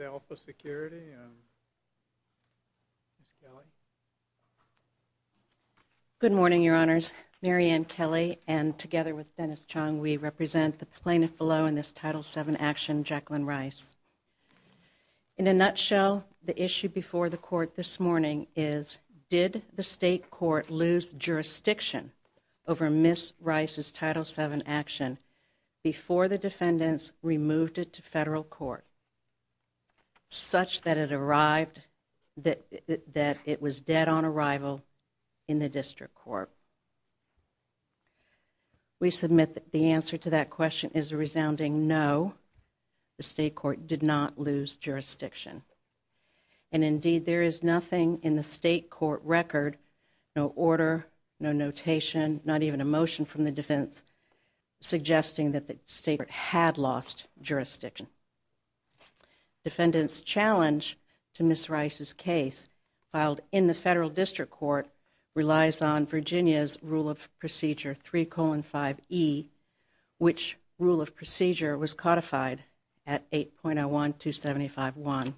Alpha Security, and Ms. Kelly. Good morning, your honors. Mary Ann Kelly and together with Dennis Chung, we represent the plaintiff below in this Title VII action, Jacqueline Rice. In a nutshell, the issue before the court this morning is, did the state court lose jurisdiction over Ms. Rice's Title VII action before the defendants removed it to federal court such that it arrived, that it was dead on arrival in the district court? We submit that the answer to that question is a resounding no. The state court did not lose jurisdiction. And indeed, there is nothing in the state court record, no order, no notation, not even a motion from the defense suggesting that the state had lost jurisdiction. Defendant's challenge to Ms. Rice's case filed in the federal district court relies on Virginia's Rule of Procedure 3-5E, which Rule of Procedure was codified at 8.01-275-1.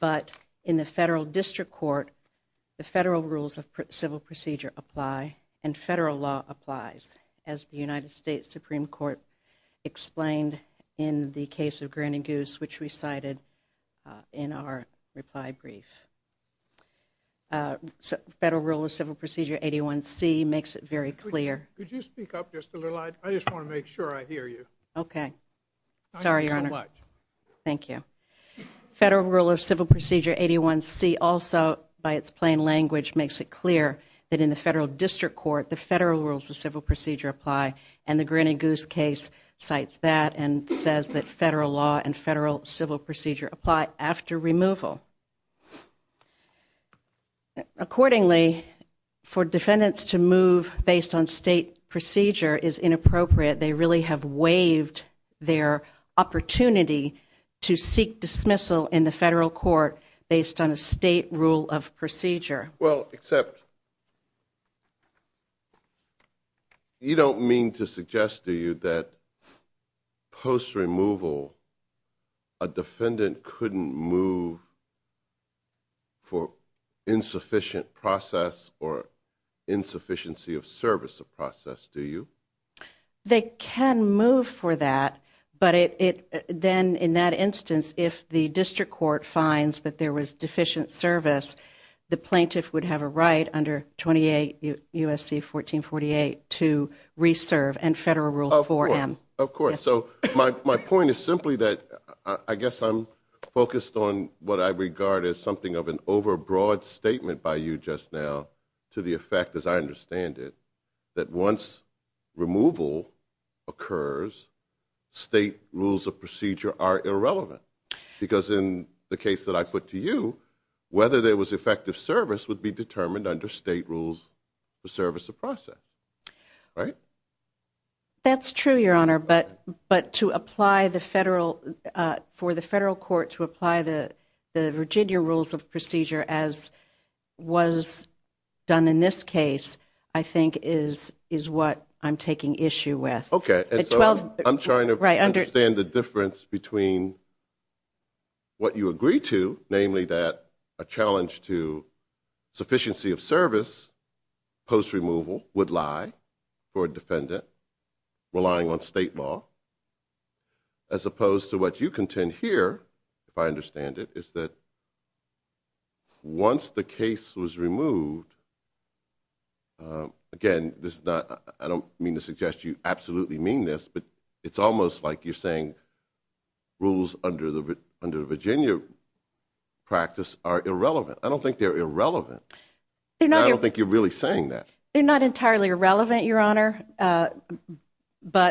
But in the federal district court, the federal rules of civil procedure apply and federal law applies, as the United States Supreme Court explained in the case of Granny Goose, which we cited in our reply brief. Federal Rule of Civil Procedure 81C makes it very clear. Could you speak up just a little? I just want to make sure I hear you. Okay. Sorry, Your Honor. Thank you. Federal Rule of Civil Procedure 81C also, by its plain language, makes it clear that in the federal district court, the federal rules of civil procedure apply. And the Granny Goose case cites that and says that federal law and federal civil procedure apply after removal. Accordingly, for defendants to move based on state procedure is inappropriate. They really have waived their opportunity to seek dismissal in the federal court based on a state rule of procedure. Well, except you don't mean to suggest to you that post-removal, a defendant couldn't move for insufficient process or insufficiency of service of process, do you? They can move for that, but then in that instance, if the district court finds that there was deficient service, the plaintiff would have a right under 28 U.S.C. 1448 to reserve and Federal Rule 4M. Of course. So my point is simply that I guess I'm focused on what I regard as something of an overbroad statement by you just now to the effect, as I understand it, that once removal occurs, state rules of procedure are irrelevant. Because in the case that I put to you, whether there was effective service would be determined under state rules for service of process. Right. That's true, Your Honor. But but to apply the federal for the federal court to apply the Virginia rules of procedure, as was done in this case, I think is is what I'm taking issue with. OK, well, I'm trying to understand the difference between. What you agree to, namely that a challenge to sufficiency of service post-removal would lie for a defendant relying on state law. As opposed to what you contend here, if I understand it, is that. Once the case was removed. Again, this is not I don't mean to suggest you absolutely mean this, but it's almost like you're saying rules under the under the Virginia practice are irrelevant. I don't think they're irrelevant. I don't think you're really saying that they're not entirely irrelevant, Your Honor. But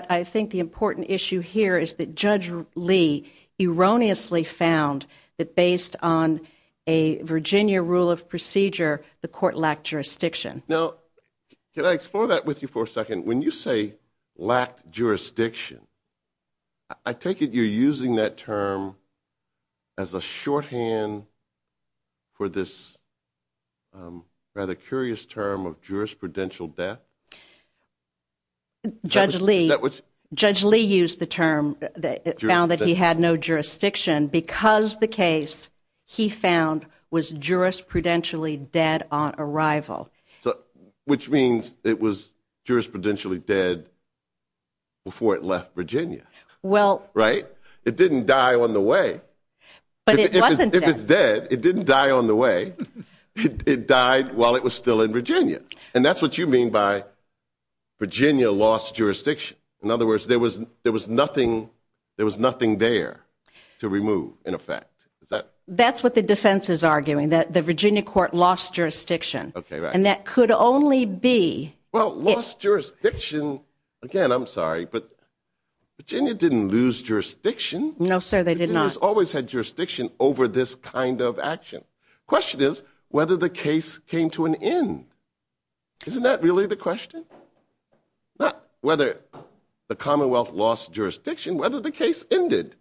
I think the important issue here is that Judge Lee erroneously found that based on a Virginia rule of procedure, the court lacked jurisdiction. Now, can I explore that with you for a second? When you say lacked jurisdiction, I take it you're using that term as a shorthand for this rather curious term of jurisprudential death. Judge Lee, Judge Lee used the term that it found that he had no jurisdiction because the case he found was jurisprudentially dead on arrival. So which means it was jurisprudentially dead. Before it left Virginia. Well, right. It didn't die on the way, but it wasn't dead. It didn't die on the way it died while it was still in Virginia. And that's what you mean by Virginia lost jurisdiction. In other words, there was there was nothing. There was nothing there to remove. In effect, that's what the defense is arguing, that the Virginia court lost jurisdiction. And that could only be well, lost jurisdiction. Again, I'm sorry, but Virginia didn't lose jurisdiction. No, sir. They did not always had jurisdiction over this kind of action. Question is whether the case came to an end. Isn't that really the question? Not whether the Commonwealth lost jurisdiction, whether the case ended.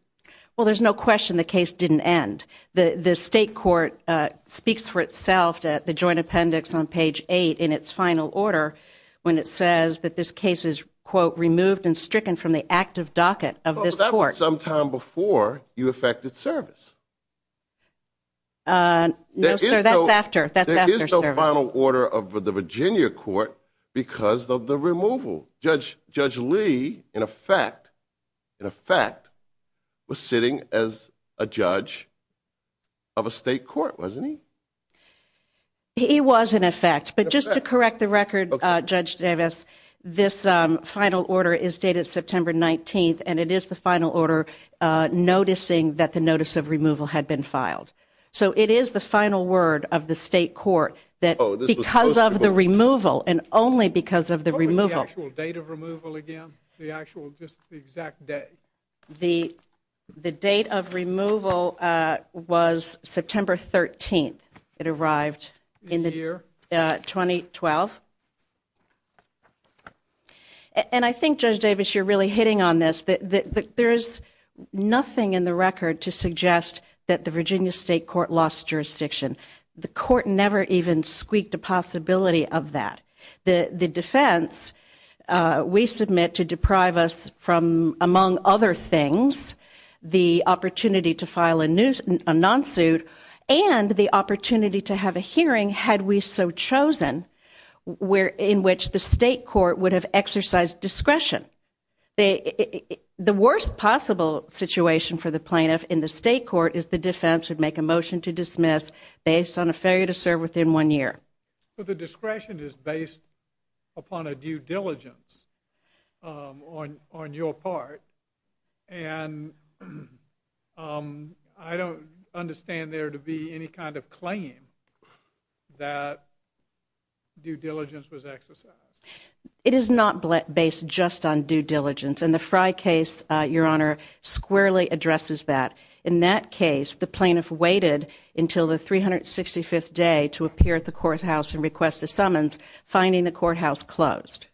Well, there's no question the case didn't end. The state court speaks for itself. The joint appendix on page eight in its final order, when it says that this case is, quote, removed and stricken from the active docket of this court. Sometime before you affected service. No, sir, that's after that is the final order of the Virginia court because of the removal. Judge Judge Lee, in effect, in effect, was sitting as a judge. Of a state court, wasn't he? He was, in effect, but just to correct the record, Judge Davis, this final order is dated September 19th. And it is the final order noticing that the notice of removal had been filed. So it is the final word of the state court that because of the removal and only because of the removal actual date of removal again, the actual just the exact day. The the date of removal was September 13th. It arrived in the year 2012. And I think, Judge Davis, you're really hitting on this. There is nothing in the record to suggest that the Virginia state court lost jurisdiction. The court never even squeaked a possibility of that. The defense we submit to deprive us from, among other things, the opportunity to file a non-suit and the opportunity to have a hearing. Had we so chosen where in which the state court would have exercised discretion. The worst possible situation for the plaintiff in the state court is the defense would make a motion to dismiss based on a failure to serve within one year. But the discretion is based upon a due diligence on on your part. And I don't understand there to be any kind of claim that due diligence was exercised. It is not based just on due diligence. And the Frye case, Your Honor, squarely addresses that. In that case, the plaintiff waited until the 365th day to appear at the courthouse and request a summons, finding the courthouse closed.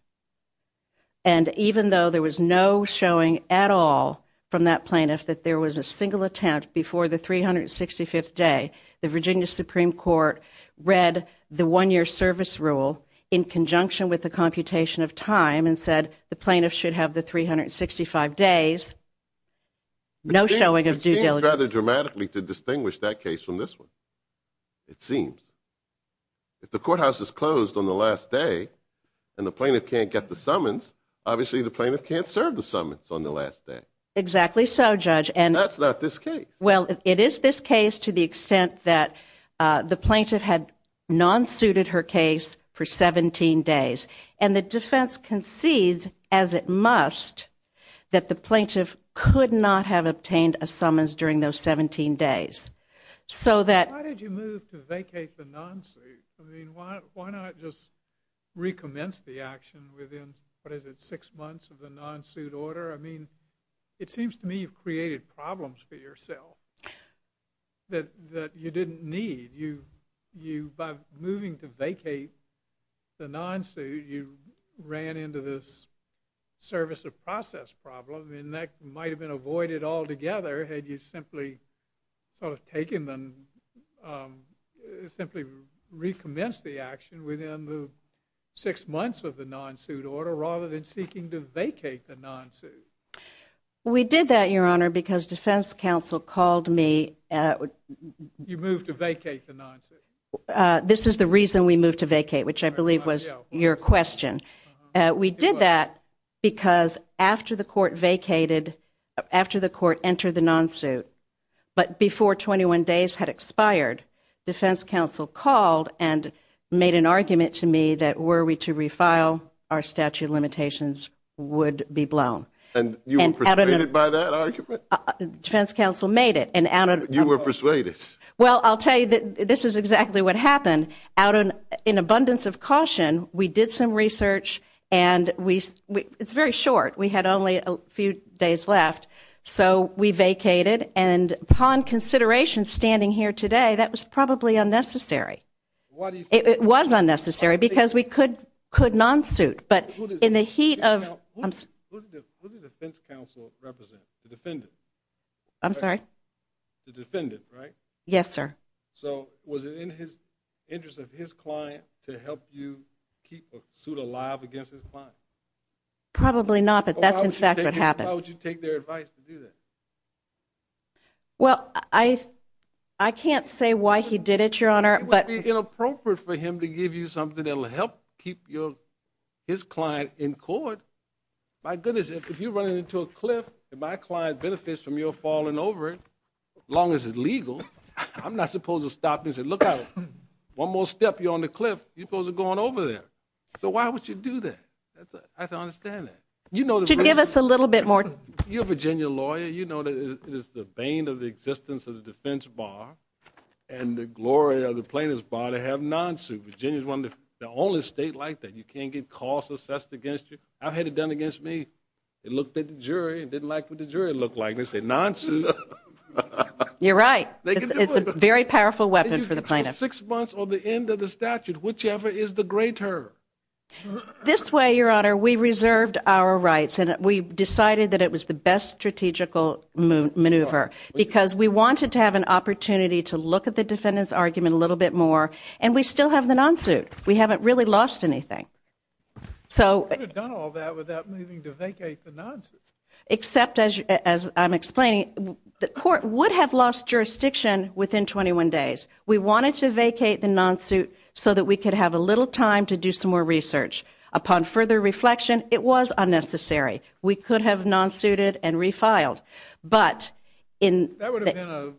And even though there was no showing at all from that plaintiff that there was a single attempt before the 365th day, the Virginia Supreme Court read the one year service rule in conjunction with the computation of time and said the plaintiff should have the 365 days. No showing of due diligence. It seems rather dramatically to distinguish that case from this one. It seems. If the courthouse is closed on the last day and the plaintiff can't get the summons, obviously the plaintiff can't serve the summons on the last day. Exactly so, Judge. And that's not this case. Well, it is this case to the extent that the plaintiff had non-suited her case for 17 days. And the defense concedes, as it must, that the plaintiff could not have obtained a summons during those 17 days. Why did you move to vacate the non-suit? I mean, why not just recommence the action within, what is it, six months of the non-suit order? I mean, it seems to me you've created problems for yourself that you didn't need. You, by moving to vacate the non-suit, you ran into this service of process problem. And that might have been avoided altogether had you simply sort of taken the, simply recommenced the action within the six months of the non-suit order rather than seeking to vacate the non-suit. We did that, Your Honor, because defense counsel called me. You moved to vacate the non-suit? This is the reason we moved to vacate, which I believe was your question. We did that because after the court vacated, after the court entered the non-suit, but before 21 days had expired, defense counsel called and made an argument to me that were we to refile, our statute of limitations would be blown. And you were persuaded by that argument? Defense counsel made it. You were persuaded? Well, I'll tell you, this is exactly what happened. Out in abundance of caution, we did some research, and it's very short. We had only a few days left. So we vacated. And upon consideration, standing here today, that was probably unnecessary. It was unnecessary because we could non-suit. Who did the defense counsel represent, the defendant? I'm sorry? The defendant, right? Yes, sir. So was it in the interest of his client to help you keep a suit alive against his client? Probably not, but that's in fact what happened. Why would you take their advice to do that? Well, I can't say why he did it, Your Honor. It would be inappropriate for him to give you something that will help keep his client in court. My goodness, if you're running into a cliff and my client benefits from your falling over it, as long as it's legal, I'm not supposed to stop and say, look out, one more step, you're on the cliff, you're supposed to go on over there. So why would you do that? I don't understand that. Give us a little bit more. You're a Virginia lawyer. Virginia, you know, is the bane of the existence of the defense bar and the glory of the plaintiff's bar to have non-suit. Virginia is one of the only states like that. You can't get costs assessed against you. I've had it done against me. They looked at the jury and didn't like what the jury looked like. They said, non-suit. You're right. It's a very powerful weapon for the plaintiff. Six months or the end of the statute, whichever is the greater. This way, Your Honor, we reserved our rights and we decided that it was the best strategical maneuver because we wanted to have an opportunity to look at the defendant's argument a little bit more, and we still have the non-suit. We haven't really lost anything. You could have done all that without needing to vacate the non-suit. Except, as I'm explaining, the court would have lost jurisdiction within 21 days. We wanted to vacate the non-suit so that we could have a little time to do some more research. Upon further reflection, it was unnecessary. We could have non-suited and refiled. That would have been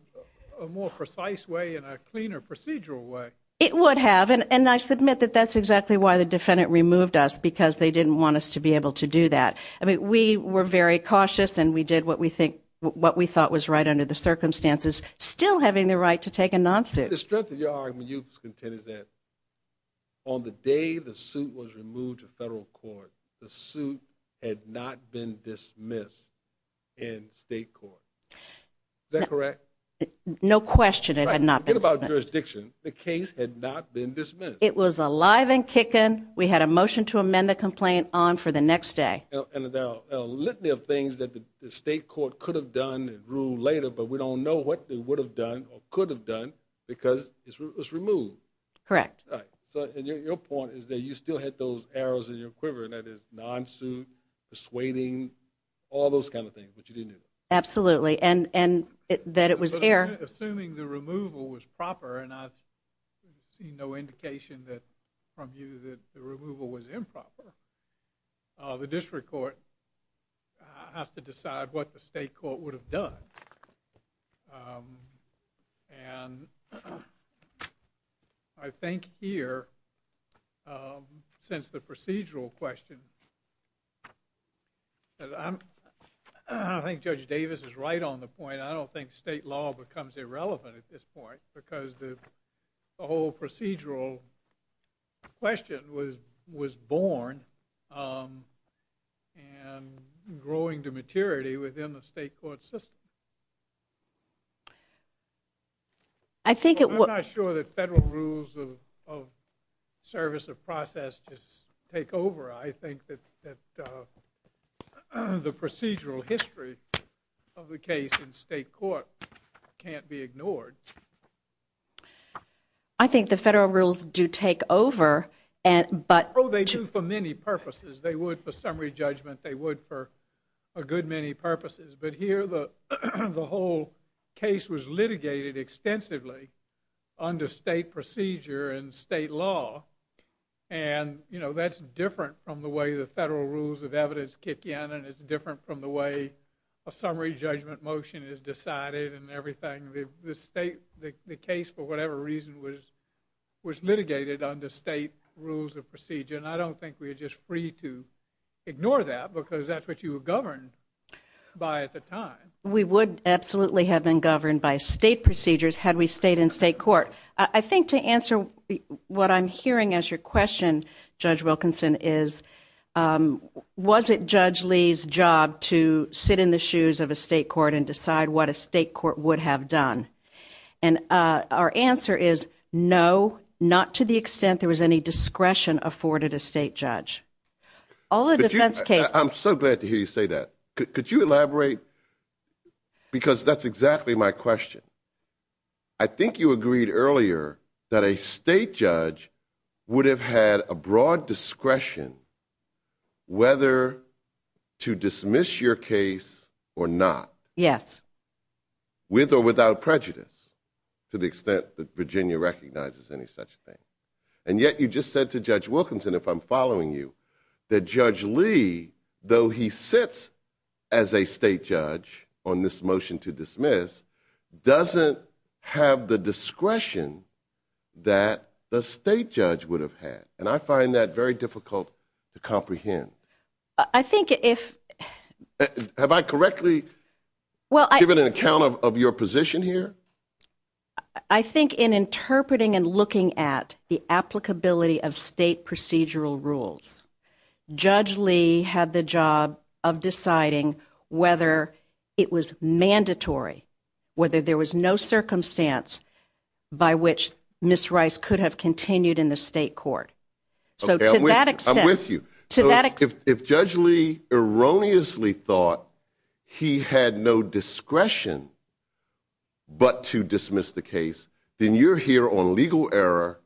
a more precise way and a cleaner procedural way. It would have, and I submit that that's exactly why the defendant removed us, because they didn't want us to be able to do that. We were very cautious and we did what we thought was right under the circumstances, still having the right to take a non-suit. The strength of your argument, you contend, is that on the day the suit was removed to federal court, the suit had not been dismissed in state court. Is that correct? No question it had not been dismissed. Forget about jurisdiction. The case had not been dismissed. It was alive and kicking. We had a motion to amend the complaint on for the next day. There are a litany of things that the state court could have done and ruled later, but we don't know what they would have done or could have done because it was removed. Correct. Your point is that you still had those arrows in your quiver, and that is non-suit, persuading, all those kind of things, but you didn't do that. Absolutely, and that it was air. Assuming the removal was proper, and I see no indication from you that the removal was improper, the district court has to decide what the state court would have done. I think here, since the procedural question, I think Judge Davis is right on the point. I don't think state law becomes irrelevant at this point because the whole procedural question was born and growing to maturity within the state court system. I'm not sure that federal rules of service or process just take over. I think that the procedural history of the case in state court can't be ignored. I think the federal rules do take over. Oh, they do for many purposes. They would for summary judgment. They would for a good many purposes. But here, the whole case was litigated extensively under state procedure and state law, and that's different from the way the federal rules of evidence kick in, and it's different from the way a summary judgment motion is decided and everything. The case, for whatever reason, was litigated under state rules of procedure, and I don't think we're just free to ignore that because that's what you were governed by at the time. We would absolutely have been governed by state procedures had we stayed in state court. I think to answer what I'm hearing as your question, Judge Wilkinson, is, was it Judge Lee's job to sit in the shoes of a state court and decide what a state court would have done? And our answer is no, not to the extent there was any discretion afforded a state judge. I'm so glad to hear you say that. Could you elaborate? Because that's exactly my question. I think you agreed earlier that a state judge would have had a broad discretion whether to dismiss your case or not. Yes. With or without prejudice, to the extent that Virginia recognizes any such thing. And yet you just said to Judge Wilkinson, if I'm following you, that Judge Lee, though he sits as a state judge on this motion to dismiss, doesn't have the discretion that the state judge would have had, and I find that very difficult to comprehend. I think if... Have I correctly given an account of your position here? I think in interpreting and looking at the applicability of state procedural rules, Judge Lee had the job of deciding whether it was mandatory, whether there was no circumstance by which Ms. Rice could have continued in the state court. So to that extent... I'm with you. If Judge Lee erroneously thought he had no discretion but to dismiss the case, then you're here on legal error,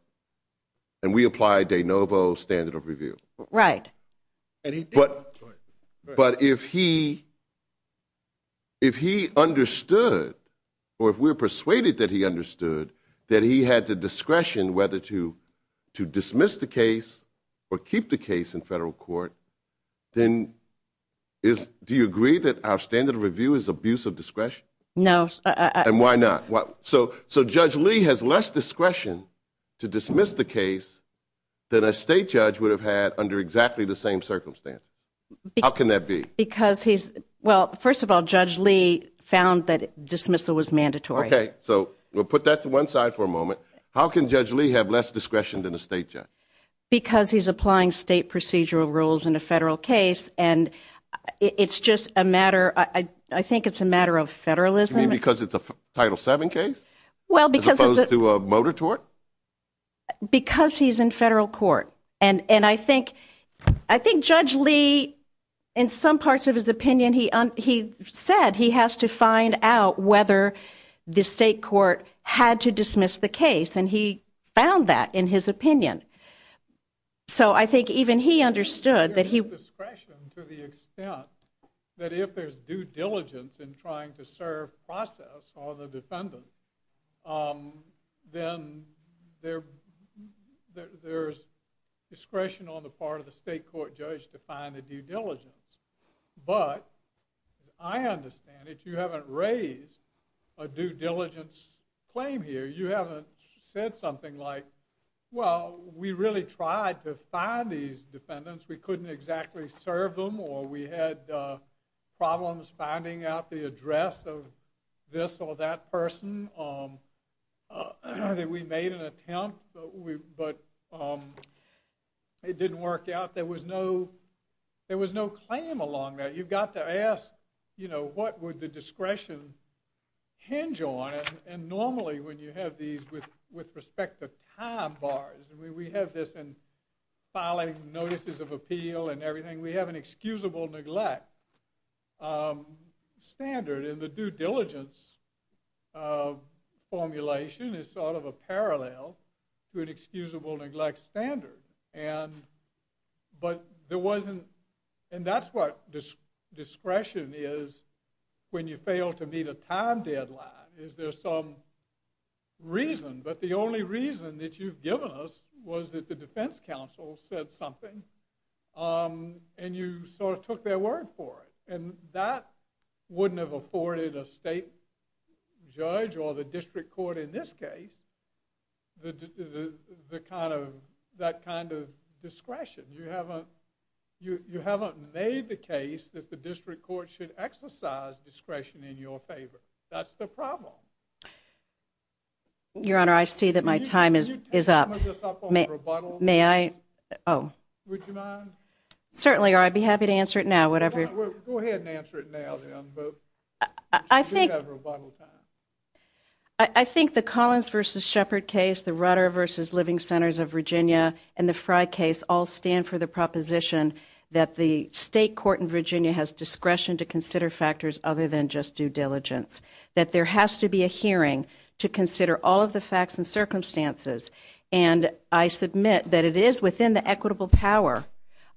and we apply de novo standard of review. Right. But if he understood, or if we're persuaded that he understood, that he had the discretion whether to dismiss the case or keep the case in federal court, then do you agree that our standard of review is abuse of discretion? No. And why not? So Judge Lee has less discretion to dismiss the case than a state judge would have had under exactly the same circumstance. How can that be? Because he's... Well, first of all, Judge Lee found that dismissal was mandatory. Okay, so we'll put that to one side for a moment. How can Judge Lee have less discretion than a state judge? Because he's applying state procedural rules in a federal case, and it's just a matter, I think it's a matter of federalism. You mean because it's a Title VII case as opposed to a motor tort? Because he's in federal court. And I think Judge Lee, in some parts of his opinion, he said he has to find out whether the state court had to dismiss the case, and he found that in his opinion. So I think even he understood that he... There's discretion to the extent that if there's due diligence in trying to serve process or the defendant, then there's discretion on the part of the state court judge to find the due diligence. But I understand if you haven't raised a due diligence claim here, you haven't said something like, well, we really tried to find these defendants. We couldn't exactly serve them, or we had problems finding out the address of this or that person. We made an attempt, but it didn't work out. There was no claim along that. You've got to ask what would the discretion hinge on, and normally when you have these with respect to time bars, we have this in filing notices of appeal and everything, we have an excusable neglect standard. And the due diligence formulation is sort of a parallel to an excusable neglect standard. But there wasn't... And that's what discretion is when you fail to meet a time deadline, is there's some reason, but the only reason that you've given us was that the defense counsel said something and you sort of took their word for it. And that wouldn't have afforded a state judge or the district court in this case that kind of discretion. You haven't made the case that the district court should exercise discretion in your favor. That's the problem. Your Honor, I see that my time is up. May I? Would you mind? Certainly, I'd be happy to answer it now, whatever. Go ahead and answer it now, then. We have rebuttal time. I think the Collins v. Shepard case, the Rudder v. Living Centers of Virginia, and the Fry case all stand for the proposition that the state court in Virginia has discretion to consider factors other than just due diligence, that there has to be a hearing to consider all of the facts and circumstances. And I submit that it is within the equitable power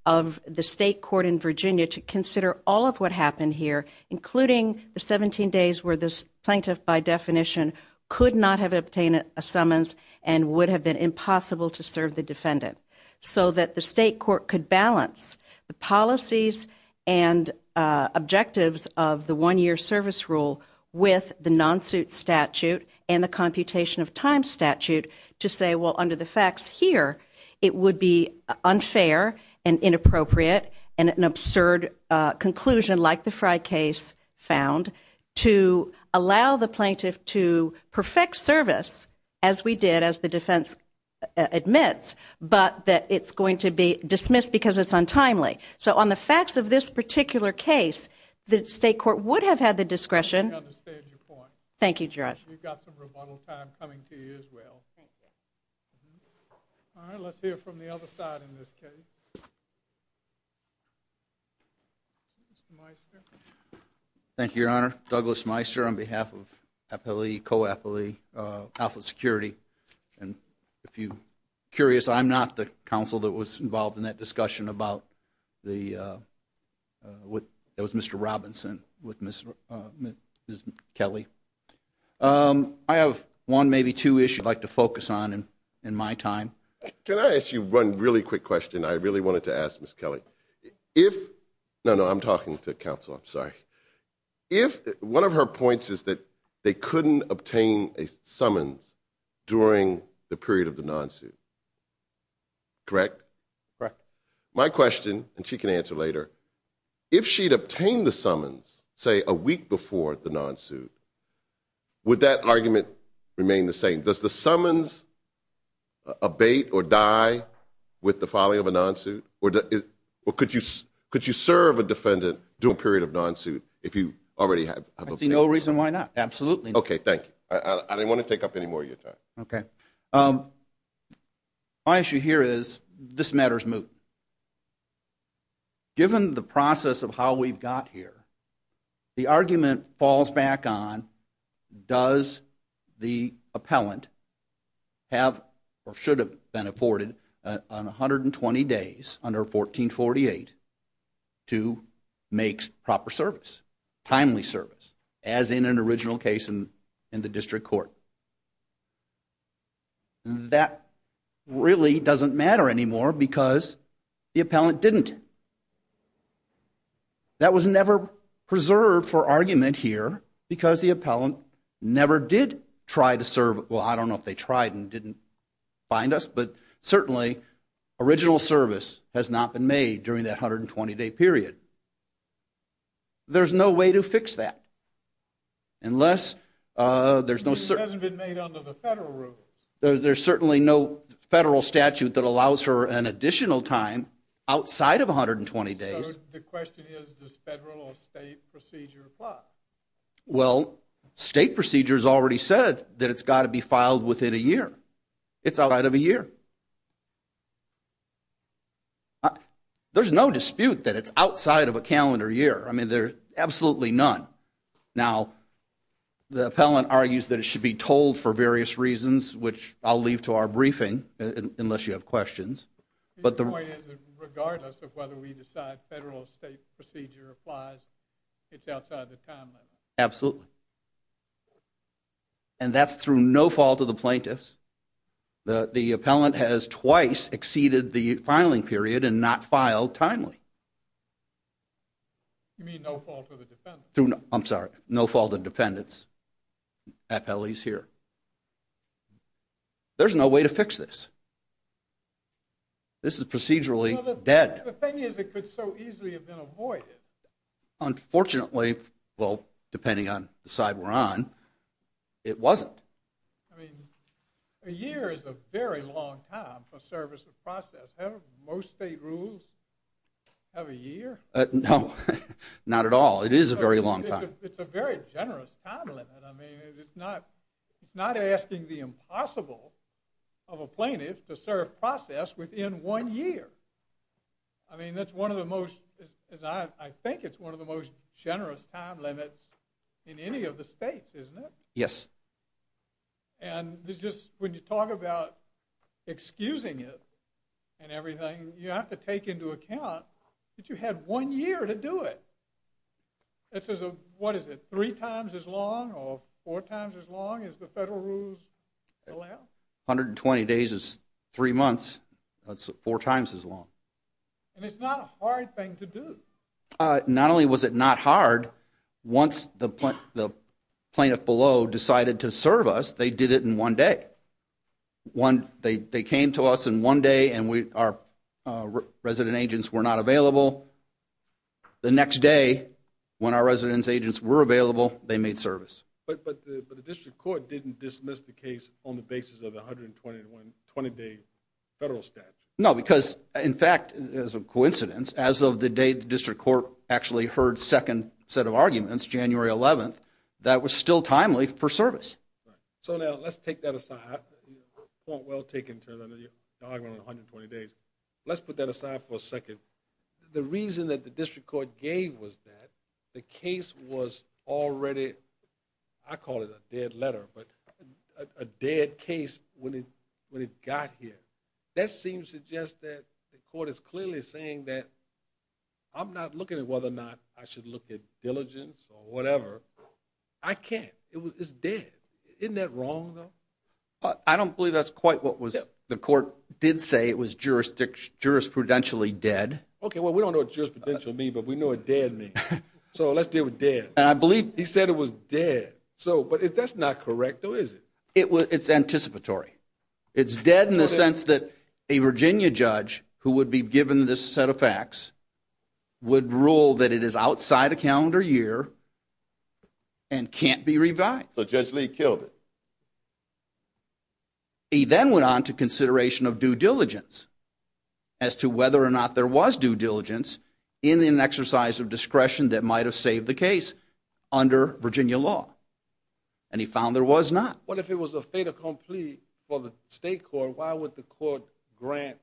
of the state court in Virginia to consider all of what happened here, including the 17 days where the plaintiff by definition could not have obtained a summons and would have been impossible to serve the defendant, so that the state court could balance the policies and objectives of the one-year service rule with the non-suit statute and the computation of time statute to say, well, under the facts here, it would be unfair and inappropriate and an absurd conclusion like the Fry case found to allow the plaintiff to perfect service, as we did, as the defense admits, but that it's going to be dismissed because it's untimely. So on the facts of this particular case, the state court would have had the discretion. I understand your point. Thank you, Judge. We've got some rebuttal time coming to you as well. Thank you. All right, let's hear from the other side in this case. Mr. Meister. Thank you, Your Honor. Douglas Meister on behalf of Appellee Co-Appellee Alpha Security. And if you're curious, I'm not the counsel that was involved in that discussion about the Mr. Robinson with Ms. Kelly. I have one, maybe two issues I'd like to focus on in my time. Can I ask you one really quick question I really wanted to ask Ms. Kelly? No, no, I'm talking to counsel. I'm sorry. One of her points is that they couldn't obtain a summons during the period of the non-suit. Correct? Correct. My question, and she can answer later, if she'd obtained the summons, say, a week before the non-suit, would that argument remain the same? Does the summons abate or die with the filing of a non-suit? Or could you serve a defendant to a period of non-suit if you already have a bait? I see no reason why not. Absolutely not. Okay, thank you. I didn't want to take up any more of your time. Okay. My issue here is this matter's moot. Given the process of how we've got here, the argument falls back on does the appellant have or should have been afforded on 120 days under 1448 to make proper service, timely service, as in an original case in the district court. That really doesn't matter anymore because the appellant didn't. That was never preserved for argument here because the appellant never did try to serve. Well, I don't know if they tried and didn't find us, but certainly original service has not been made during that 120-day period. There's no way to fix that unless there's no certain. It hasn't been made under the federal rule. There's certainly no federal statute that allows for an additional time outside of 120 days. So the question is does federal or state procedure apply? Well, state procedure's already said that it's got to be filed within a year. It's outside of a year. There's no dispute that it's outside of a calendar year. I mean, there's absolutely none. Now, the appellant argues that it should be told for various reasons, which I'll leave to our briefing unless you have questions. Your point is that regardless of whether we decide federal or state procedure applies, it's outside the time limit. Absolutely. And that's through no fault of the plaintiffs. The appellant has twice exceeded the filing period and not filed timely. You mean no fault of the defendants? I'm sorry. No fault of defendants, appellees here. There's no way to fix this. This is procedurally dead. The thing is it could so easily have been avoided. Unfortunately, well, depending on the side we're on, it wasn't. I mean, a year is a very long time for service of process. Most state rules have a year? No, not at all. It is a very long time. It's a very generous time limit. I mean, it's not asking the impossible of a plaintiff to serve process within one year. I mean, that's one of the most, I think it's one of the most generous time limits in any of the states, isn't it? Yes. And when you talk about excusing it and everything, you have to take into account that you had one year to do it. This is, what is it, three times as long or four times as long as the federal rules allow? 120 days is three months. That's four times as long. And it's not a hard thing to do. Not only was it not hard, once the plaintiff below decided to serve us, they did it in one day. They came to us in one day and our resident agents were not available. The next day, when our resident agents were available, they made service. But the district court didn't dismiss the case on the basis of the 120-day federal statute. No, because, in fact, as a coincidence, as of the day the district court actually heard second set of arguments, January 11th, that was still timely for service. So, now, let's take that aside. Point well taken to the argument on 120 days. Let's put that aside for a second. The reason that the district court gave was that the case was already, I call it a dead letter, but a dead case when it got here. That seems to suggest that the court is clearly saying that I'm not looking at whether or not I should look at diligence or whatever. I can't. It's dead. Isn't that wrong, though? I don't believe that's quite what the court did say. It was jurisprudentially dead. Okay, well, we don't know what jurisprudential means, but we know what dead means. So, let's deal with dead. He said it was dead. But that's not correct, though, is it? It's anticipatory. It's dead in the sense that a Virginia judge who would be given this set of facts would rule that it is outside a calendar year and can't be revised. So, Judge Lee killed it. He then went on to consideration of due diligence as to whether or not there was due diligence in an exercise of discretion that might have saved the case under Virginia law, and he found there was not. What if it was a fait accompli for the state court? Why would the court grant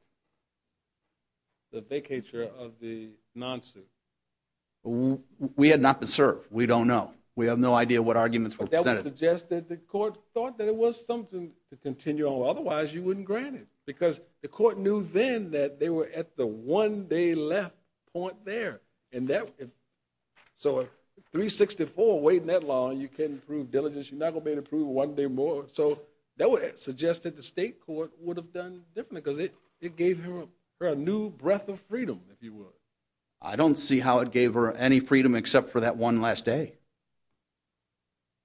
the vacature of the non-suit? We had not been served. We don't know. We have no idea what arguments were presented. But that would suggest that the court thought that it was something to continue on with. Otherwise, you wouldn't grant it because the court knew then that they were at the one-day left point there. So, 364, waiting that long, you can't improve diligence. You're not going to be able to prove it one day more. So, that would suggest that the state court would have done differently because it gave her a new breath of freedom, if you will. I don't see how it gave her any freedom except for that one last day.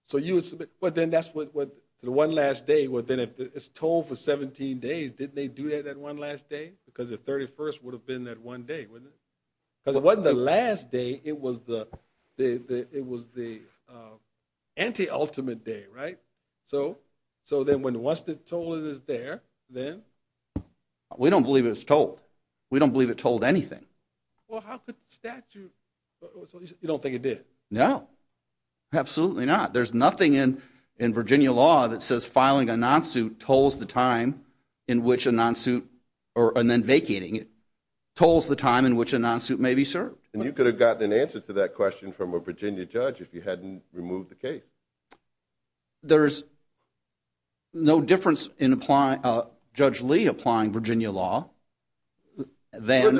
So, you would submit. Well, then, that's what the one last day. Well, then, if it's told for 17 days, didn't they do that one last day? Because the 31st would have been that one day, wouldn't it? Because it wasn't the last day. It was the anti-ultimate day, right? So, then, once the toll is there, then? We don't believe it was tolled. We don't believe it tolled anything. Well, how could the statute? You don't think it did? No. Absolutely not. There's nothing in Virginia law that says filing a non-suit tolls the time in which a non-suit, and then vacating it, tolls the time in which a non-suit may be served. And you could have gotten an answer to that question from a Virginia judge if you hadn't removed the case. There's no difference in Judge Lee applying Virginia law than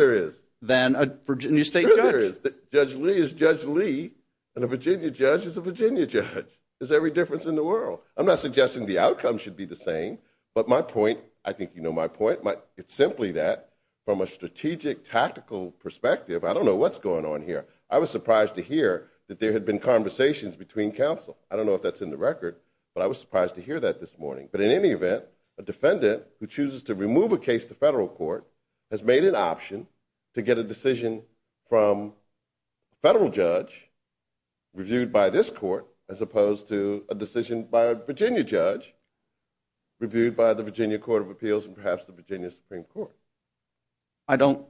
a Virginia state judge. Judge Lee is Judge Lee, and a Virginia judge is a Virginia judge. There's every difference in the world. I'm not suggesting the outcome should be the same, but my point, I think you know my point. It's simply that, from a strategic tactical perspective, I don't know what's going on here. I was surprised to hear that there had been conversations between counsel. I don't know if that's in the record, but I was surprised to hear that this morning. But in any event, a defendant who chooses to remove a case to federal court has made an option to get a decision from a federal judge reviewed by this court as opposed to a decision by a Virginia judge reviewed by the Virginia Court of Appeals and perhaps the Virginia Supreme Court. I don't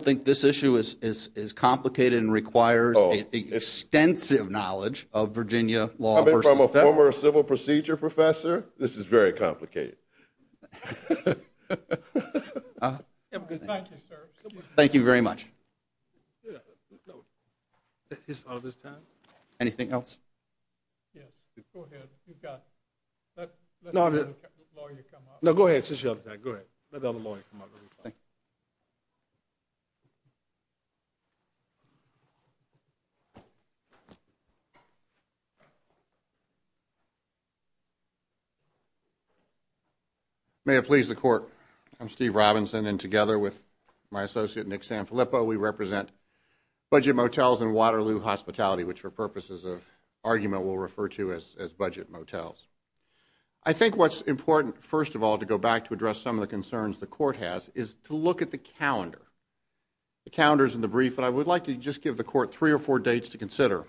think this issue is complicated and requires extensive knowledge of Virginia law versus federal. As a former civil procedure professor, this is very complicated. Thank you, sir. Thank you very much. Anything else? Yes. Go ahead. You've got. Let the lawyer come up. No, go ahead. Go ahead. Let the other lawyer come up. Thank you. May it please the court. I'm Steve Robinson, and together with my associate, Nick Sanfilippo, we represent Budget Motels and Waterloo Hospitality, which for purposes of argument we'll refer to as Budget Motels. I think what's important, first of all, to go back to address some of the concerns the court has is to look at the calendar. The calendar is in the brief, but I would like to just give the court three or four dates to consider.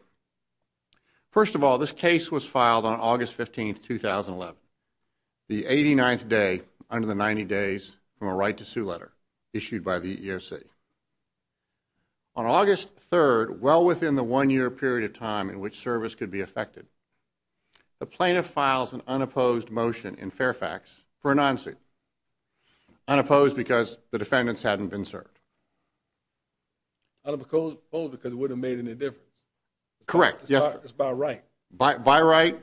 First of all, this case was filed on August 15, 2011, the 89th day under the 90 days from a right to sue letter issued by the EEOC. On August 3rd, well within the one-year period of time in which service could be affected, the plaintiff files an unopposed motion in Fairfax for a non-suit, unopposed because the defendants hadn't been served. Unopposed because it wouldn't have made any difference. Correct. It's by right. By right.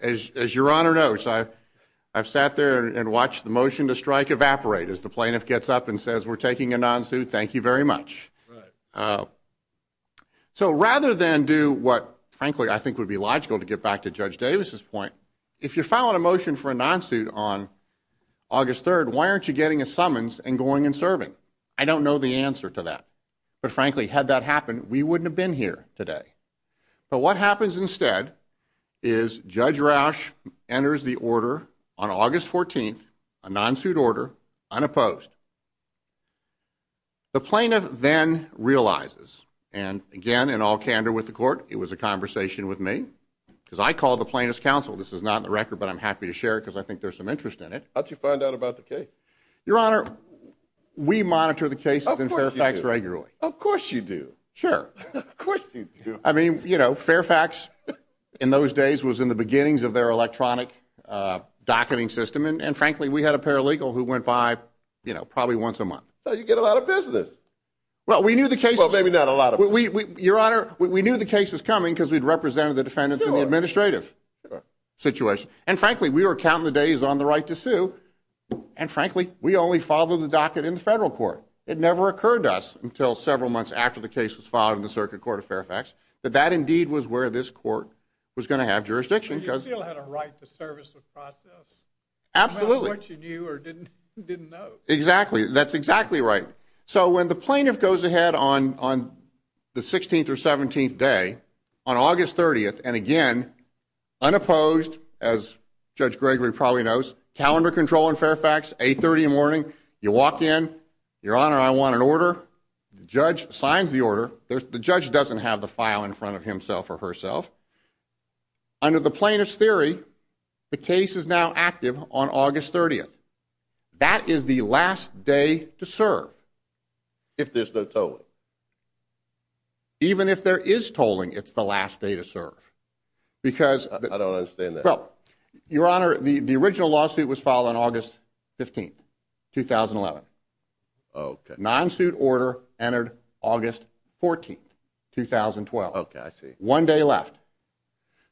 As your Honor notes, I've sat there and watched the motion to strike evaporate as the plaintiff gets up and says, we're taking a non-suit, thank you very much. So rather than do what frankly I think would be logical to get back to Judge Davis's point, if you're filing a motion for a non-suit on August 3rd, why aren't you getting a summons and going and serving? I don't know the answer to that. But frankly, had that happened, we wouldn't have been here today. But what happens instead is Judge Rausch enters the order on August 14th, a non-suit order, unopposed. The plaintiff then realizes, and again, in all candor with the court, it was a conversation with me, because I call the plaintiff's counsel. This is not in the record, but I'm happy to share it because I think there's some interest in it. How'd you find out about the case? Your Honor, we monitor the cases in Fairfax regularly. Of course you do. Sure. Of course you do. I mean, you know, Fairfax in those days was in the beginnings of their electronic docketing system. And frankly, we had a paralegal who went by, you know, probably once a month. So you get a lot of business. Well, we knew the case was coming because we'd represented the defendants in the administrative situation. And frankly, we were counting the days on the right to sue. And frankly, we only followed the docket in the federal court. It never occurred to us until several months after the case was filed in the circuit court of Fairfax that that indeed was where this court was going to have jurisdiction. But you still had a right to service the process. Absolutely. No matter what you knew or didn't know. Exactly. That's exactly right. So when the plaintiff goes ahead on the 16th or 17th day, on August 30th, and again, unopposed, as Judge Gregory probably knows, calendar control in Fairfax, 830 in the morning, you walk in, Your Honor, I want an order. The judge signs the order. The judge doesn't have the file in front of himself or herself. Under the plaintiff's theory, the case is now active on August 30th. That is the last day to serve. If there's no tolling. Even if there is tolling, it's the last day to serve. I don't understand that. Well, Your Honor, the original lawsuit was filed on August 15th, 2011. Okay. Non-suit order entered August 14th, 2012. Okay, I see. One day left.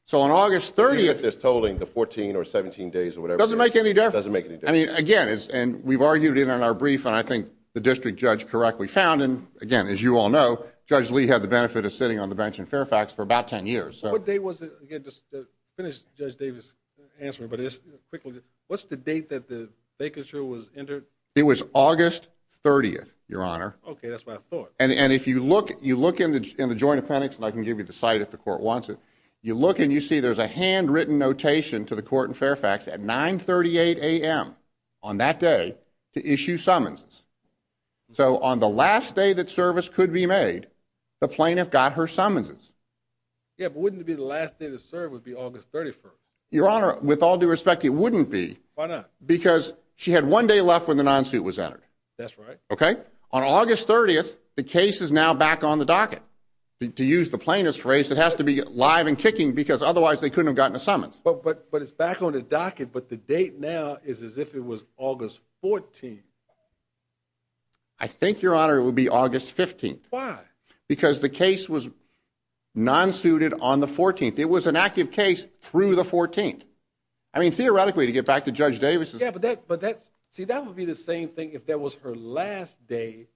So on August 30th. Even if there's tolling, the 14 or 17 days or whatever. It doesn't make any difference. It doesn't make any difference. I mean, again, and we've argued it in our brief, and I think the district judge correctly found, and again, as you all know, Judge Lee had the benefit of sitting on the bench in Fairfax for about 10 years. What day was it? Again, just finish Judge Davis' answer, but just quickly, what's the date that the vacancy was entered? It was August 30th, Your Honor. Okay, that's what I thought. And if you look in the joint appendix, and I can give you the site if the court wants it, you look and you see there's a handwritten notation to the court in Fairfax at 9.38 a.m. on that day to issue summonses. So on the last day that service could be made, the plaintiff got her summonses. Yeah, but wouldn't it be the last day to serve would be August 31st? Your Honor, with all due respect, it wouldn't be. Why not? Because she had one day left when the non-suit was entered. That's right. Okay? On August 30th, the case is now back on the docket. To use the plaintiff's phrase, it has to be live and kicking because otherwise they couldn't have gotten a summons. But it's back on the docket, but the date now is as if it was August 14th. I think, Your Honor, it would be August 15th. Why? Because the case was non-suited on the 14th. It was an active case through the 14th. I mean, theoretically, to get back to Judge Davis. Yeah, but that would be the same thing if that was her last day.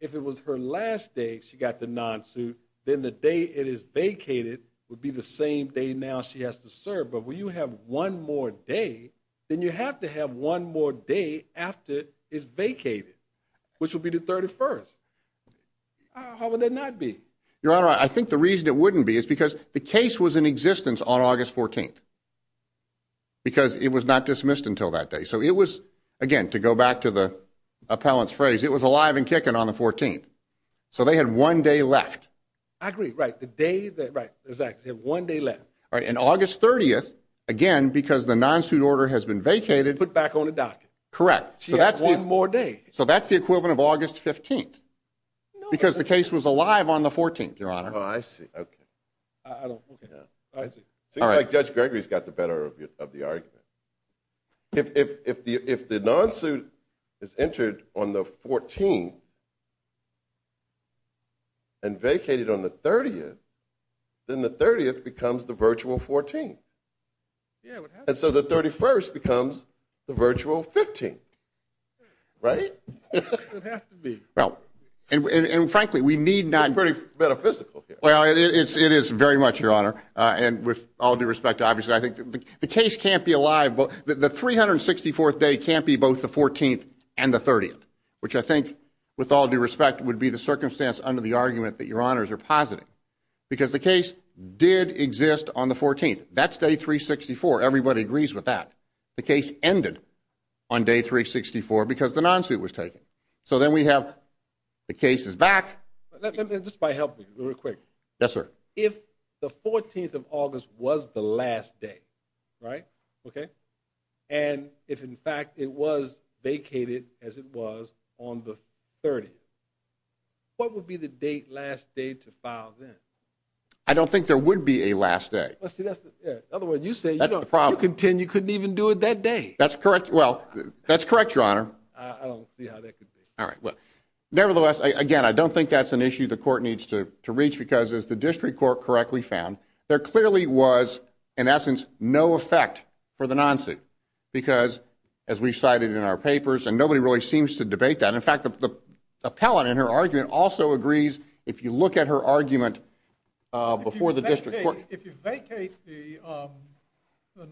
If it was her last day she got the non-suit, then the day it is vacated would be the same day now she has to serve. But when you have one more day, then you have to have one more day after it's vacated, which would be the 31st. How would that not be? Your Honor, I think the reason it wouldn't be is because the case was in existence on August 14th because it was not dismissed until that day. So it was, again, to go back to the appellant's phrase, it was alive and kicking on the 14th. So they had one day left. I agree, right. The day that, right. Exactly. They have one day left. All right. And August 30th, again, because the non-suit order has been vacated. Put back on the docket. Correct. She has one more day. So that's the equivalent of August 15th because the case was alive on the 14th, Your Honor. Oh, I see. Okay. All right. It seems like Judge Gregory's got the better of the argument. If the non-suit is entered on the 14th and vacated on the 30th, then the 30th becomes the virtual 14th. Yeah, what happened? And so the 31st becomes the virtual 15th. Right? It has to be. And, frankly, we need not. It's pretty metaphysical here. Well, it is very much, Your Honor. And with all due respect, obviously, I think the case can't be alive. The 364th day can't be both the 14th and the 30th, which I think, with all due respect, would be the circumstance under the argument that Your Honors are positing because the case did exist on the 14th. That's day 364. Everybody agrees with that. The case ended on day 364 because the non-suit was taken. So then we have the cases back. Just if I help you real quick. Yes, sir. If the 14th of August was the last day, right? Okay. And if, in fact, it was vacated as it was on the 30th, what would be the date last day to file then? I don't think there would be a last day. In other words, you say you couldn't even do it that day. That's correct, Your Honor. I don't see how that could be. Nevertheless, again, I don't think that's an issue the court needs to reach because, as the district court correctly found, there clearly was, in essence, no effect for the non-suit because, as we cited in our papers, and nobody really seems to debate that. In fact, the appellant in her argument also agrees, if you look at her argument before the district court. If you vacate the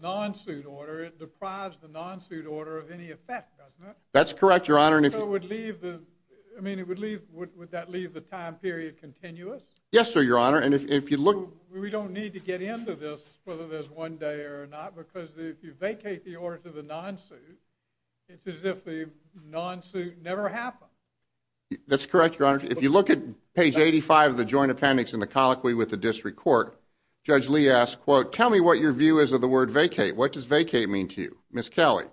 non-suit order, it deprives the non-suit order of any effect, doesn't it? That's correct, Your Honor. I mean, would that leave the time period continuous? Yes, sir, Your Honor. We don't need to get into this whether there's one day or not because if you vacate the order to the non-suit, it's as if the non-suit never happened. That's correct, Your Honor. If you look at page 85 of the joint appendix in the colloquy with the district court, Judge Lee asked, quote, tell me what your view is of the word vacate. What does vacate mean to you, Ms. Kelly?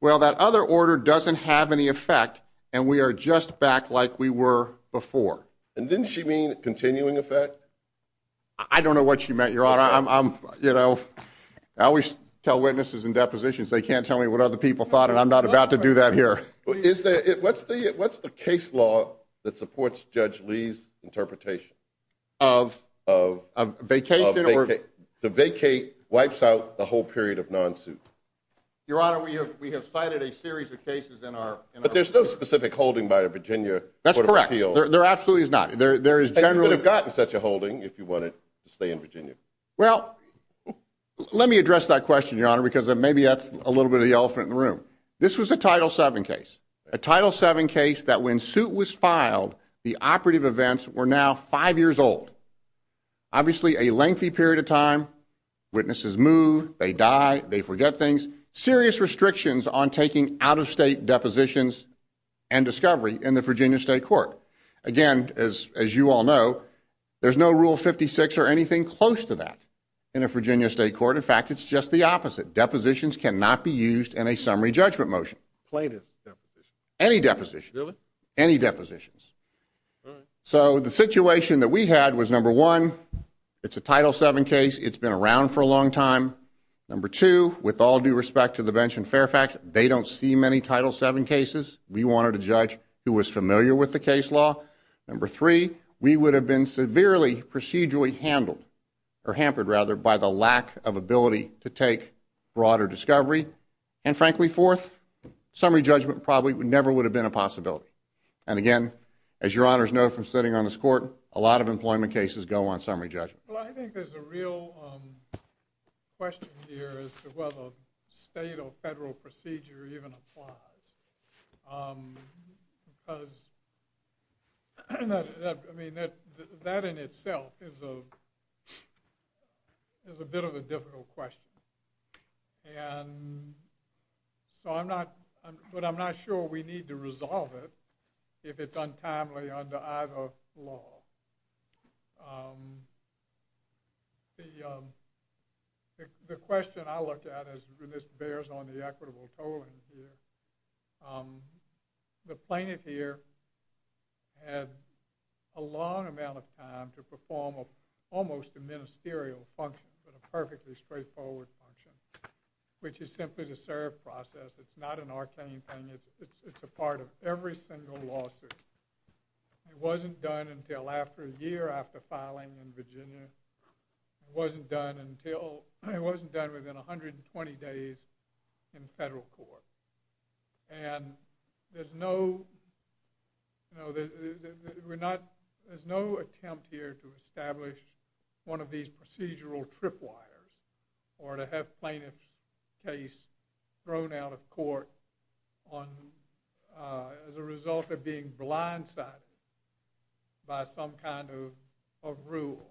Well, that other order doesn't have any effect, and we are just back like we were before. And didn't she mean continuing effect? I don't know what she meant, Your Honor. I always tell witnesses in depositions they can't tell me what other people thought, and I'm not about to do that here. What's the case law that supports Judge Lee's interpretation? Vacation or? The vacate wipes out the whole period of non-suit. Your Honor, we have cited a series of cases in our. But there's no specific holding by the Virginia Court of Appeals. That's correct. There absolutely is not. And you could have gotten such a holding if you wanted to stay in Virginia. Well, let me address that question, Your Honor, because maybe that's a little bit of the elephant in the room. This was a Title VII case, a Title VII case that when suit was filed, the operative events were now five years old. Obviously, a lengthy period of time. Witnesses move, they die, they forget things. Serious restrictions on taking out-of-state depositions and discovery in the Virginia State Court. Again, as you all know, there's no Rule 56 or anything close to that in a Virginia State Court. In fact, it's just the opposite. Depositions cannot be used in a summary judgment motion. Plaintiff deposition? Any deposition. Really? Any depositions. All right. So the situation that we had was, number one, it's a Title VII case. It's been around for a long time. Number two, with all due respect to the bench in Fairfax, they don't see many Title VII cases. We wanted a judge who was familiar with the case law. Number three, we would have been severely procedurally handled, or hampered rather, by the lack of ability to take broader discovery. And frankly, fourth, summary judgment probably never would have been a possibility. And again, as your Honors know from sitting on this Court, a lot of employment cases go on summary judgment. Well, I think there's a real question here as to whether state or federal procedure even applies. Because, I mean, that in itself is a bit of a difficult question. And so I'm not sure we need to resolve it if it's untimely under either law. The question I look at, and this bears on the equitable tolling here, the plaintiff here had a long amount of time to perform almost a ministerial function, but a perfectly straightforward function, which is simply the serve process. It's not an arcane thing. It's a part of every single lawsuit. It wasn't done until a year after filing in Virginia. It wasn't done within 120 days in federal court. And there's no attempt here to establish one of these procedural tripwires, or to have plaintiff's case thrown out of court as a result of being blindsided by some kind of rule.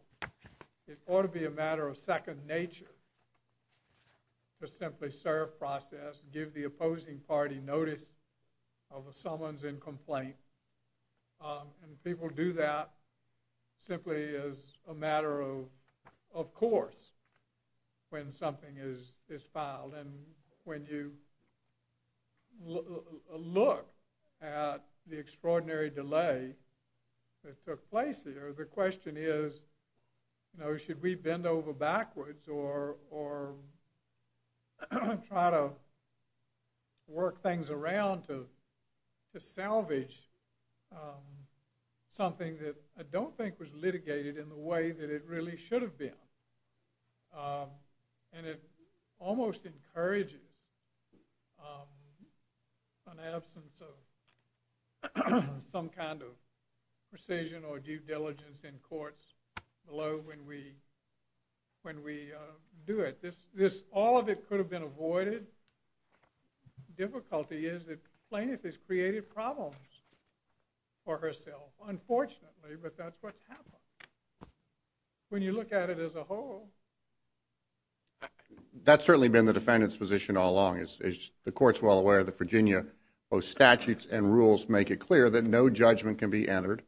It ought to be a matter of second nature to simply serve process, give the opposing party notice of a summons and complaint. And people do that simply as a matter of course when something is filed. And when you look at the extraordinary delay that took place here, the question is, you know, should we bend over backwards or try to work things around to salvage something that I don't think was litigated in the way that it really should have been. And it almost encourages an absence of some kind of precision or due diligence in courts below when we do it. All of it could have been avoided. Difficulty is that plaintiff has created problems for herself, unfortunately, but that's what's happened. When you look at it as a whole. That's certainly been the defendant's position all along. The court's well aware that Virginia, both statutes and rules, make it clear that no judgment can be entered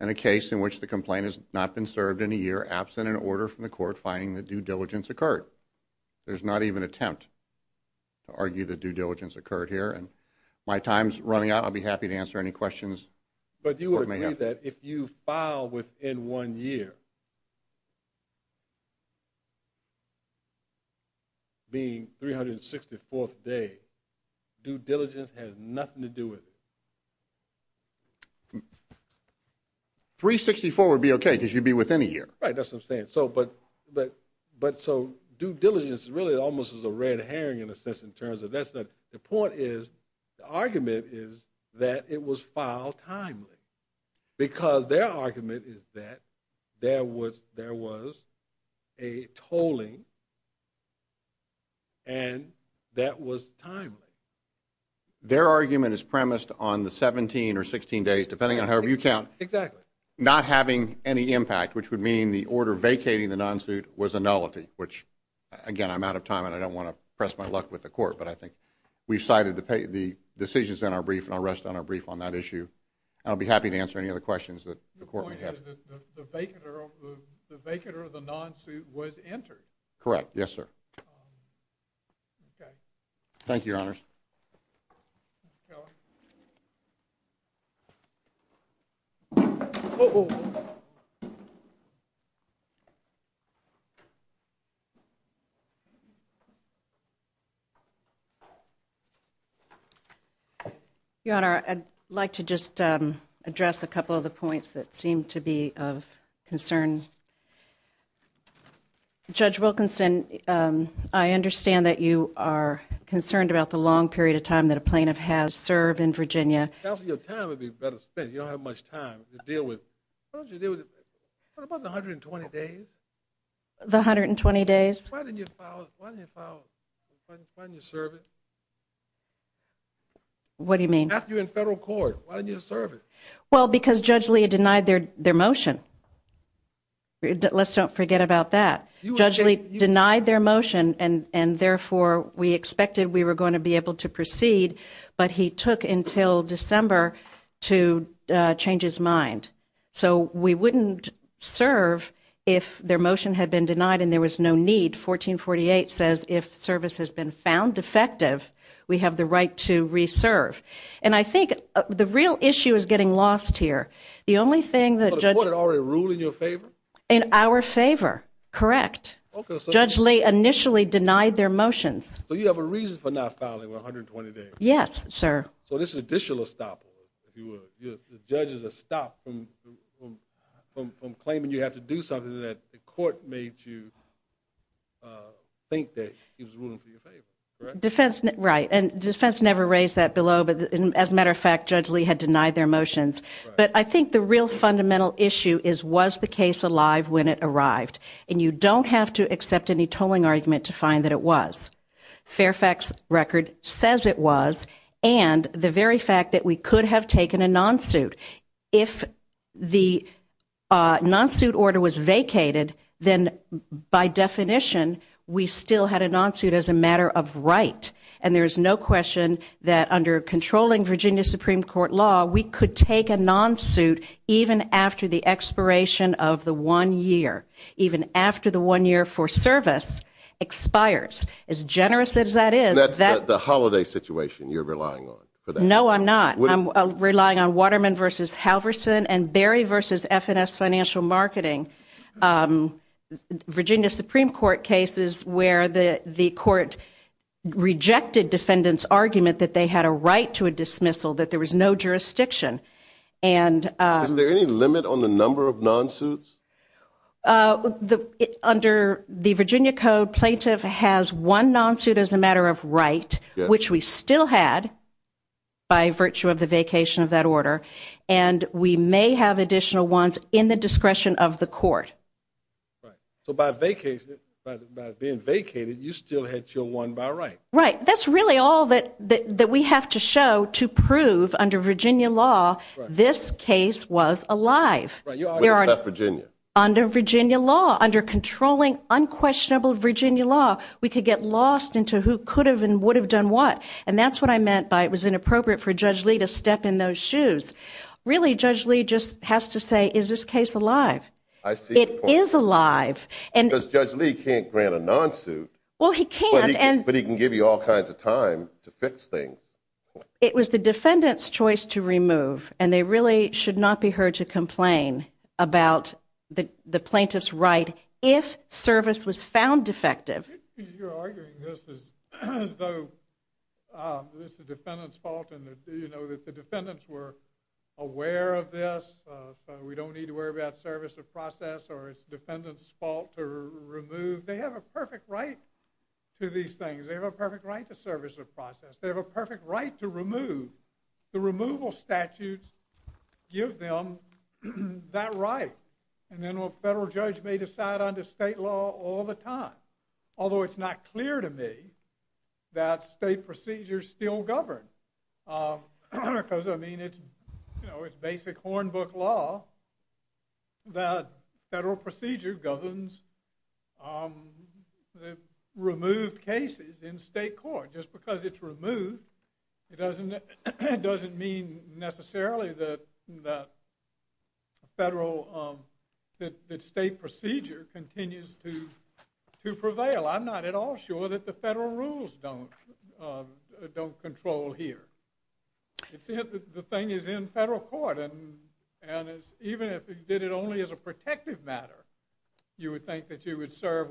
in a case in which the complaint has not been served in a year absent an order from the court finding that due diligence occurred. There's not even attempt to argue that due diligence occurred here. And my time's running out. I'll be happy to answer any questions. But do you agree that if you file within one year, being 364th day, due diligence has nothing to do with it? 364 would be okay because you'd be within a year. Right. That's what I'm saying. But so due diligence really almost is a red herring in a sense in terms of that's the point is the argument is that it was filed timely because their argument is premised on the 17 or 16 days, depending on however you count, not having any impact, which would mean the order vacating the non-suit was a nullity, which again I'm out of time and I don't want to press my luck with the court, but I think we've cited the decisions in our brief and I'll rest on our brief on that issue. I'll be happy to answer any other questions that the court may have. The point is that the vacater of the non-suit was entered. Correct. Yes, sir. Okay. Thank you, Your Honor. Your Honor, I'd like to just address a couple of the points that seem to be of concern. Judge Wilkinson, I understand that you are concerned about the long period of time that a plaintiff has served in Virginia. Counsel, your time would be better spent. You don't have much time to deal with. What about the 120 days? Why didn't you file it? Why didn't you file it? Why didn't you serve it? What do you mean? After you're in federal court, why didn't you serve it? Well, because Judge Lee denied their motion. Let's don't forget about that. Judge Lee denied their motion, and therefore we expected we were going to be able to proceed, but he took until December to change his mind. So we wouldn't serve if their motion had been denied and there was no need. 1448 says if service has been found defective, we have the right to reserve. And I think the real issue is getting lost here. The only thing that Judge – So the court had already ruled in your favor? In our favor. Correct. Judge Lee initially denied their motions. So you have a reason for not filing 120 days? Yes, sir. So this is an additional stop, if you will. The judge is a stop from claiming you have to do something that the court made you think that he was ruling for your favor, correct? Right. And defense never raised that below, but as a matter of fact, Judge Lee had denied their motions. But I think the real fundamental issue is was the case alive when it arrived? And you don't have to accept any tolling argument to find that it was. Fairfax Record says it was, and the very fact that we could have taken a non-suit. If the non-suit order was vacated, then by definition, we still had a non-suit as a matter of right, and there is no question that under controlling Virginia Supreme Court law, we could take a non-suit even after the expiration of the one year, even after the one year for service expires. As generous as that is. And that's the holiday situation you're relying on? No, I'm not. I'm relying on Waterman v. Halverson and Berry v. F&S Financial Marketing, Virginia Supreme Court cases where the court rejected defendant's argument that they had a right to a dismissal, that there was no jurisdiction. Is there any limit on the number of non-suits? Under the Virginia Code, plaintiff has one non-suit as a matter of right, which we still had by virtue of the vacation of that order, and we may have additional ones in the discretion of the court. So by being vacated, you still had your one by right? Right. That's really all that we have to show to prove, under Virginia law, this case was alive. Right. You already left Virginia. Under Virginia law, under controlling, unquestionable Virginia law, we could get lost into who could have and would have done what, and that's what I meant by it was inappropriate for Judge Lee to step in those shoes. Really, Judge Lee just has to say, is this case alive? I see your point. It is alive. Because Judge Lee can't grant a non-suit. Well, he can't. But he can give you all kinds of time to fix things. It was the defendant's choice to remove, and they really should not be heard to complain about the plaintiff's right if service was found defective. You're arguing this as though this is the defendant's fault, and that the defendants were aware of this, we don't need to worry about service or process, or it's the defendant's fault to remove. They have a perfect right to these things. They have a perfect right to service or process. They have a perfect right to remove. The removal statutes give them that right, and then a federal judge may decide under state law all the time, although it's not clear to me that state procedures still govern, because, I mean, it's basic hornbook law. The federal procedure governs removed cases in state court. Just because it's removed, it doesn't mean necessarily that state procedure continues to prevail. I'm not at all sure that the federal rules don't control here. The thing is in federal court, and even if you did it only as a protective matter, you would think that you would serve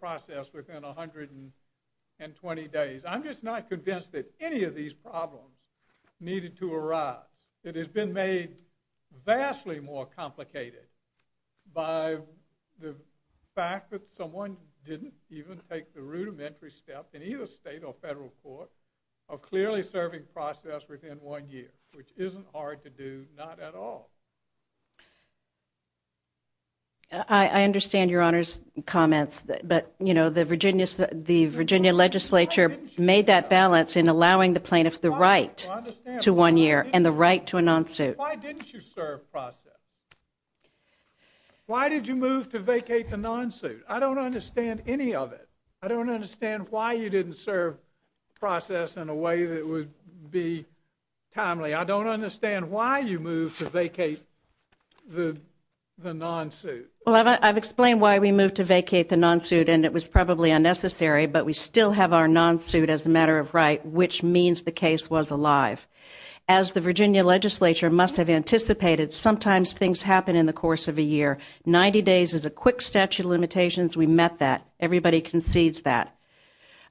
process within 120 days. I'm just not convinced that any of these problems needed to arise. It has been made vastly more complicated by the fact that someone didn't even take the rudimentary step in either state or federal court of clearly serving process within one year, which isn't hard to do, not at all. I understand Your Honor's comments, but the Virginia legislature made that balance in allowing the plaintiff the right to one year and the right to a non-suit. Why didn't you serve process? Why did you move to vacate the non-suit? I don't understand any of it. I don't understand why you didn't serve process in a way that would be timely. I don't understand why you moved to vacate the non-suit. I've explained why we moved to vacate the non-suit, and it was probably unnecessary, but we still have our non-suit as a matter of right, which means the case was alive. As the Virginia legislature must have anticipated, sometimes things happen in the course of a year. Ninety days is a quick statute of limitations. We met that. Everybody concedes that.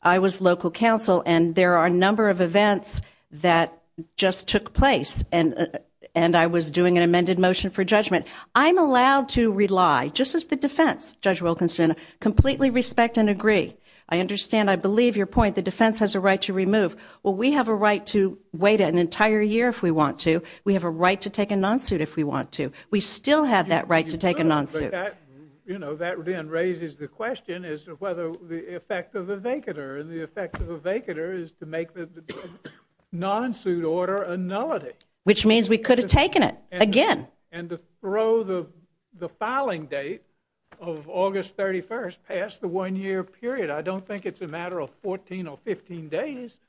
I was local counsel, and there are a number of events that just took place, and I was doing an amended motion for judgment. I'm allowed to rely, just as the defense, Judge Wilkinson, completely respect and agree. I understand, I believe your point, the defense has a right to remove. Well, we have a right to wait an entire year if we want to. We have a right to take a non-suit if we want to. We still have that right to take a non-suit. That then raises the question as to whether the effect of a vacater, and the effect of a vacater is to make the non-suit order a nullity. Which means we could have taken it again. And to throw the filing date of August 31st past the one-year period, I don't think it's a matter of 14 or 15 days.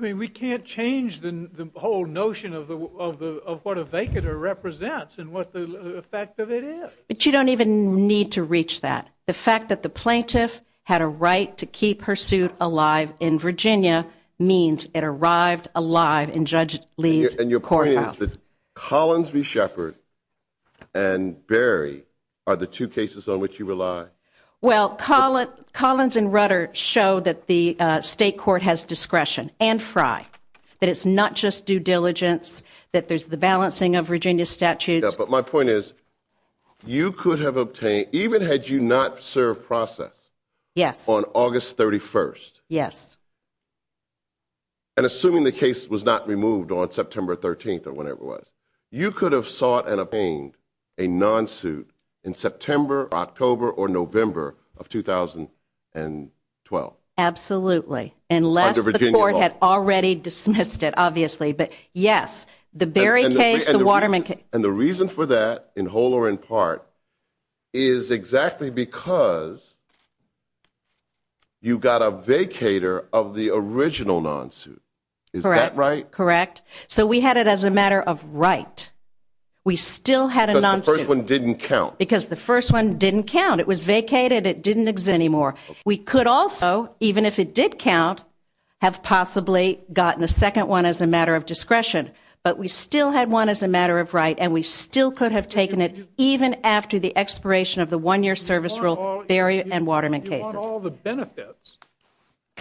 We can't change the whole notion of what a vacater represents and what the effect of it is. But you don't even need to reach that. The fact that the plaintiff had a right to keep her suit alive in Virginia means it arrived alive in Judge Lee's courthouse. And your point is that Collins v. Shepard and Berry are the two cases on which you rely. Well, Collins and Rutter show that the state court has discretion, and Frye, that it's not just due diligence, that there's the balancing of Virginia statutes. Yeah, but my point is you could have obtained, even had you not served process on August 31st, and assuming the case was not removed on September 13th or whenever it was, you could have sought and obtained a non-suit in September, October, or November of 2012. Absolutely, unless the court had already dismissed it, obviously. But, yes, the Berry case, the Waterman case. And the reason for that, in whole or in part, is exactly because you got a vacater of the original non-suit. Is that right? Correct. So we had it as a matter of right. We still had a non-suit. Because the first one didn't count. Because the first one didn't count. It was vacated. It didn't exist anymore. We could also, even if it did count, have possibly gotten a second one as a matter of discretion. But we still had one as a matter of right, and we still could have taken it even after the expiration of the one-year service rule, Berry and Waterman cases. You want all the benefits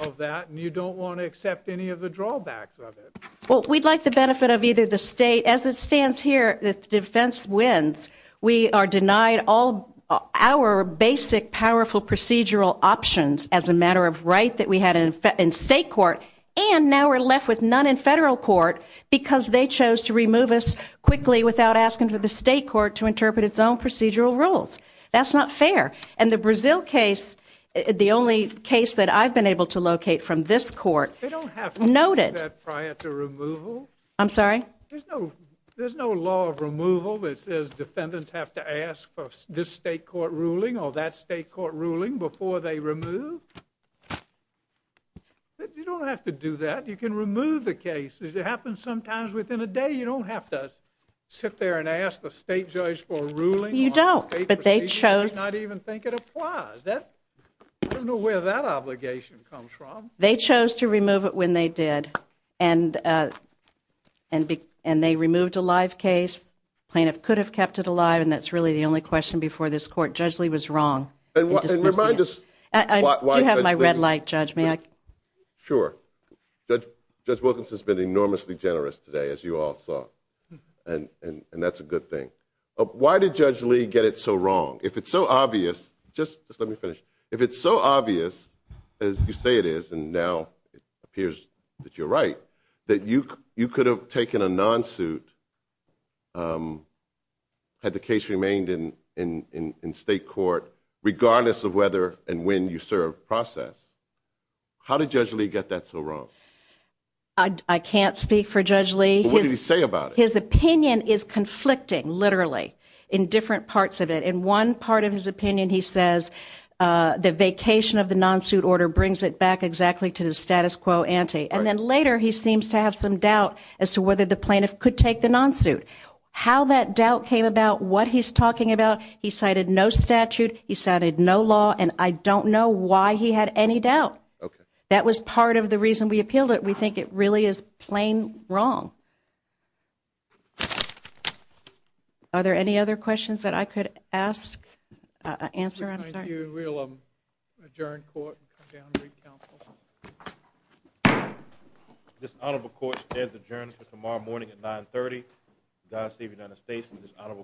of that, and you don't want to accept any of the drawbacks of it. Well, we'd like the benefit of either the state. As it stands here, the defense wins. We are denied all our basic, powerful procedural options as a matter of right that we had in state court, and now we're left with none in federal court because they chose to remove us quickly without asking for the state court to interpret its own procedural rules. That's not fair. And the Brazil case, the only case that I've been able to locate from this court, noted. They don't have to do that prior to removal. I'm sorry? There's no law of removal that says defendants have to ask for this state court ruling or that state court ruling before they remove. You don't have to do that. You can remove the case. It happens sometimes within a day. You don't have to sit there and ask the state judge for a ruling. You don't. But they chose. I don't even think it applies. I don't know where that obligation comes from. They chose to remove it when they did, and they removed a live case. The plaintiff could have kept it alive, and that's really the only question before this court. Judge Lee was wrong in dismissing it. You have my red light, Judge. May I? Sure. Judge Wilkins has been enormously generous today, as you all saw, and that's a good thing. Why did Judge Lee get it so wrong? If it's so obvious, just let me finish. If it's so obvious, as you say it is, and now it appears that you're right, that you could have taken a non-suit had the case remained in state court regardless of whether and when you served process, how did Judge Lee get that so wrong? I can't speak for Judge Lee. What did he say about it? His opinion is conflicting, literally, in different parts of it. In one part of his opinion he says the vacation of the non-suit order brings it back exactly to the status quo ante, and then later he seems to have some doubt as to whether the plaintiff could take the non-suit. How that doubt came about, what he's talking about, he cited no statute. He cited no law. And I don't know why he had any doubt. That was part of the reason we appealed it. We think it really is plain wrong. Are there any other questions that I could ask, answer? I'm sorry. Thank you. We'll adjourn court and come down and read counsel. This honorable court stands adjourned until tomorrow morning at 930. God save the United States and this honorable court.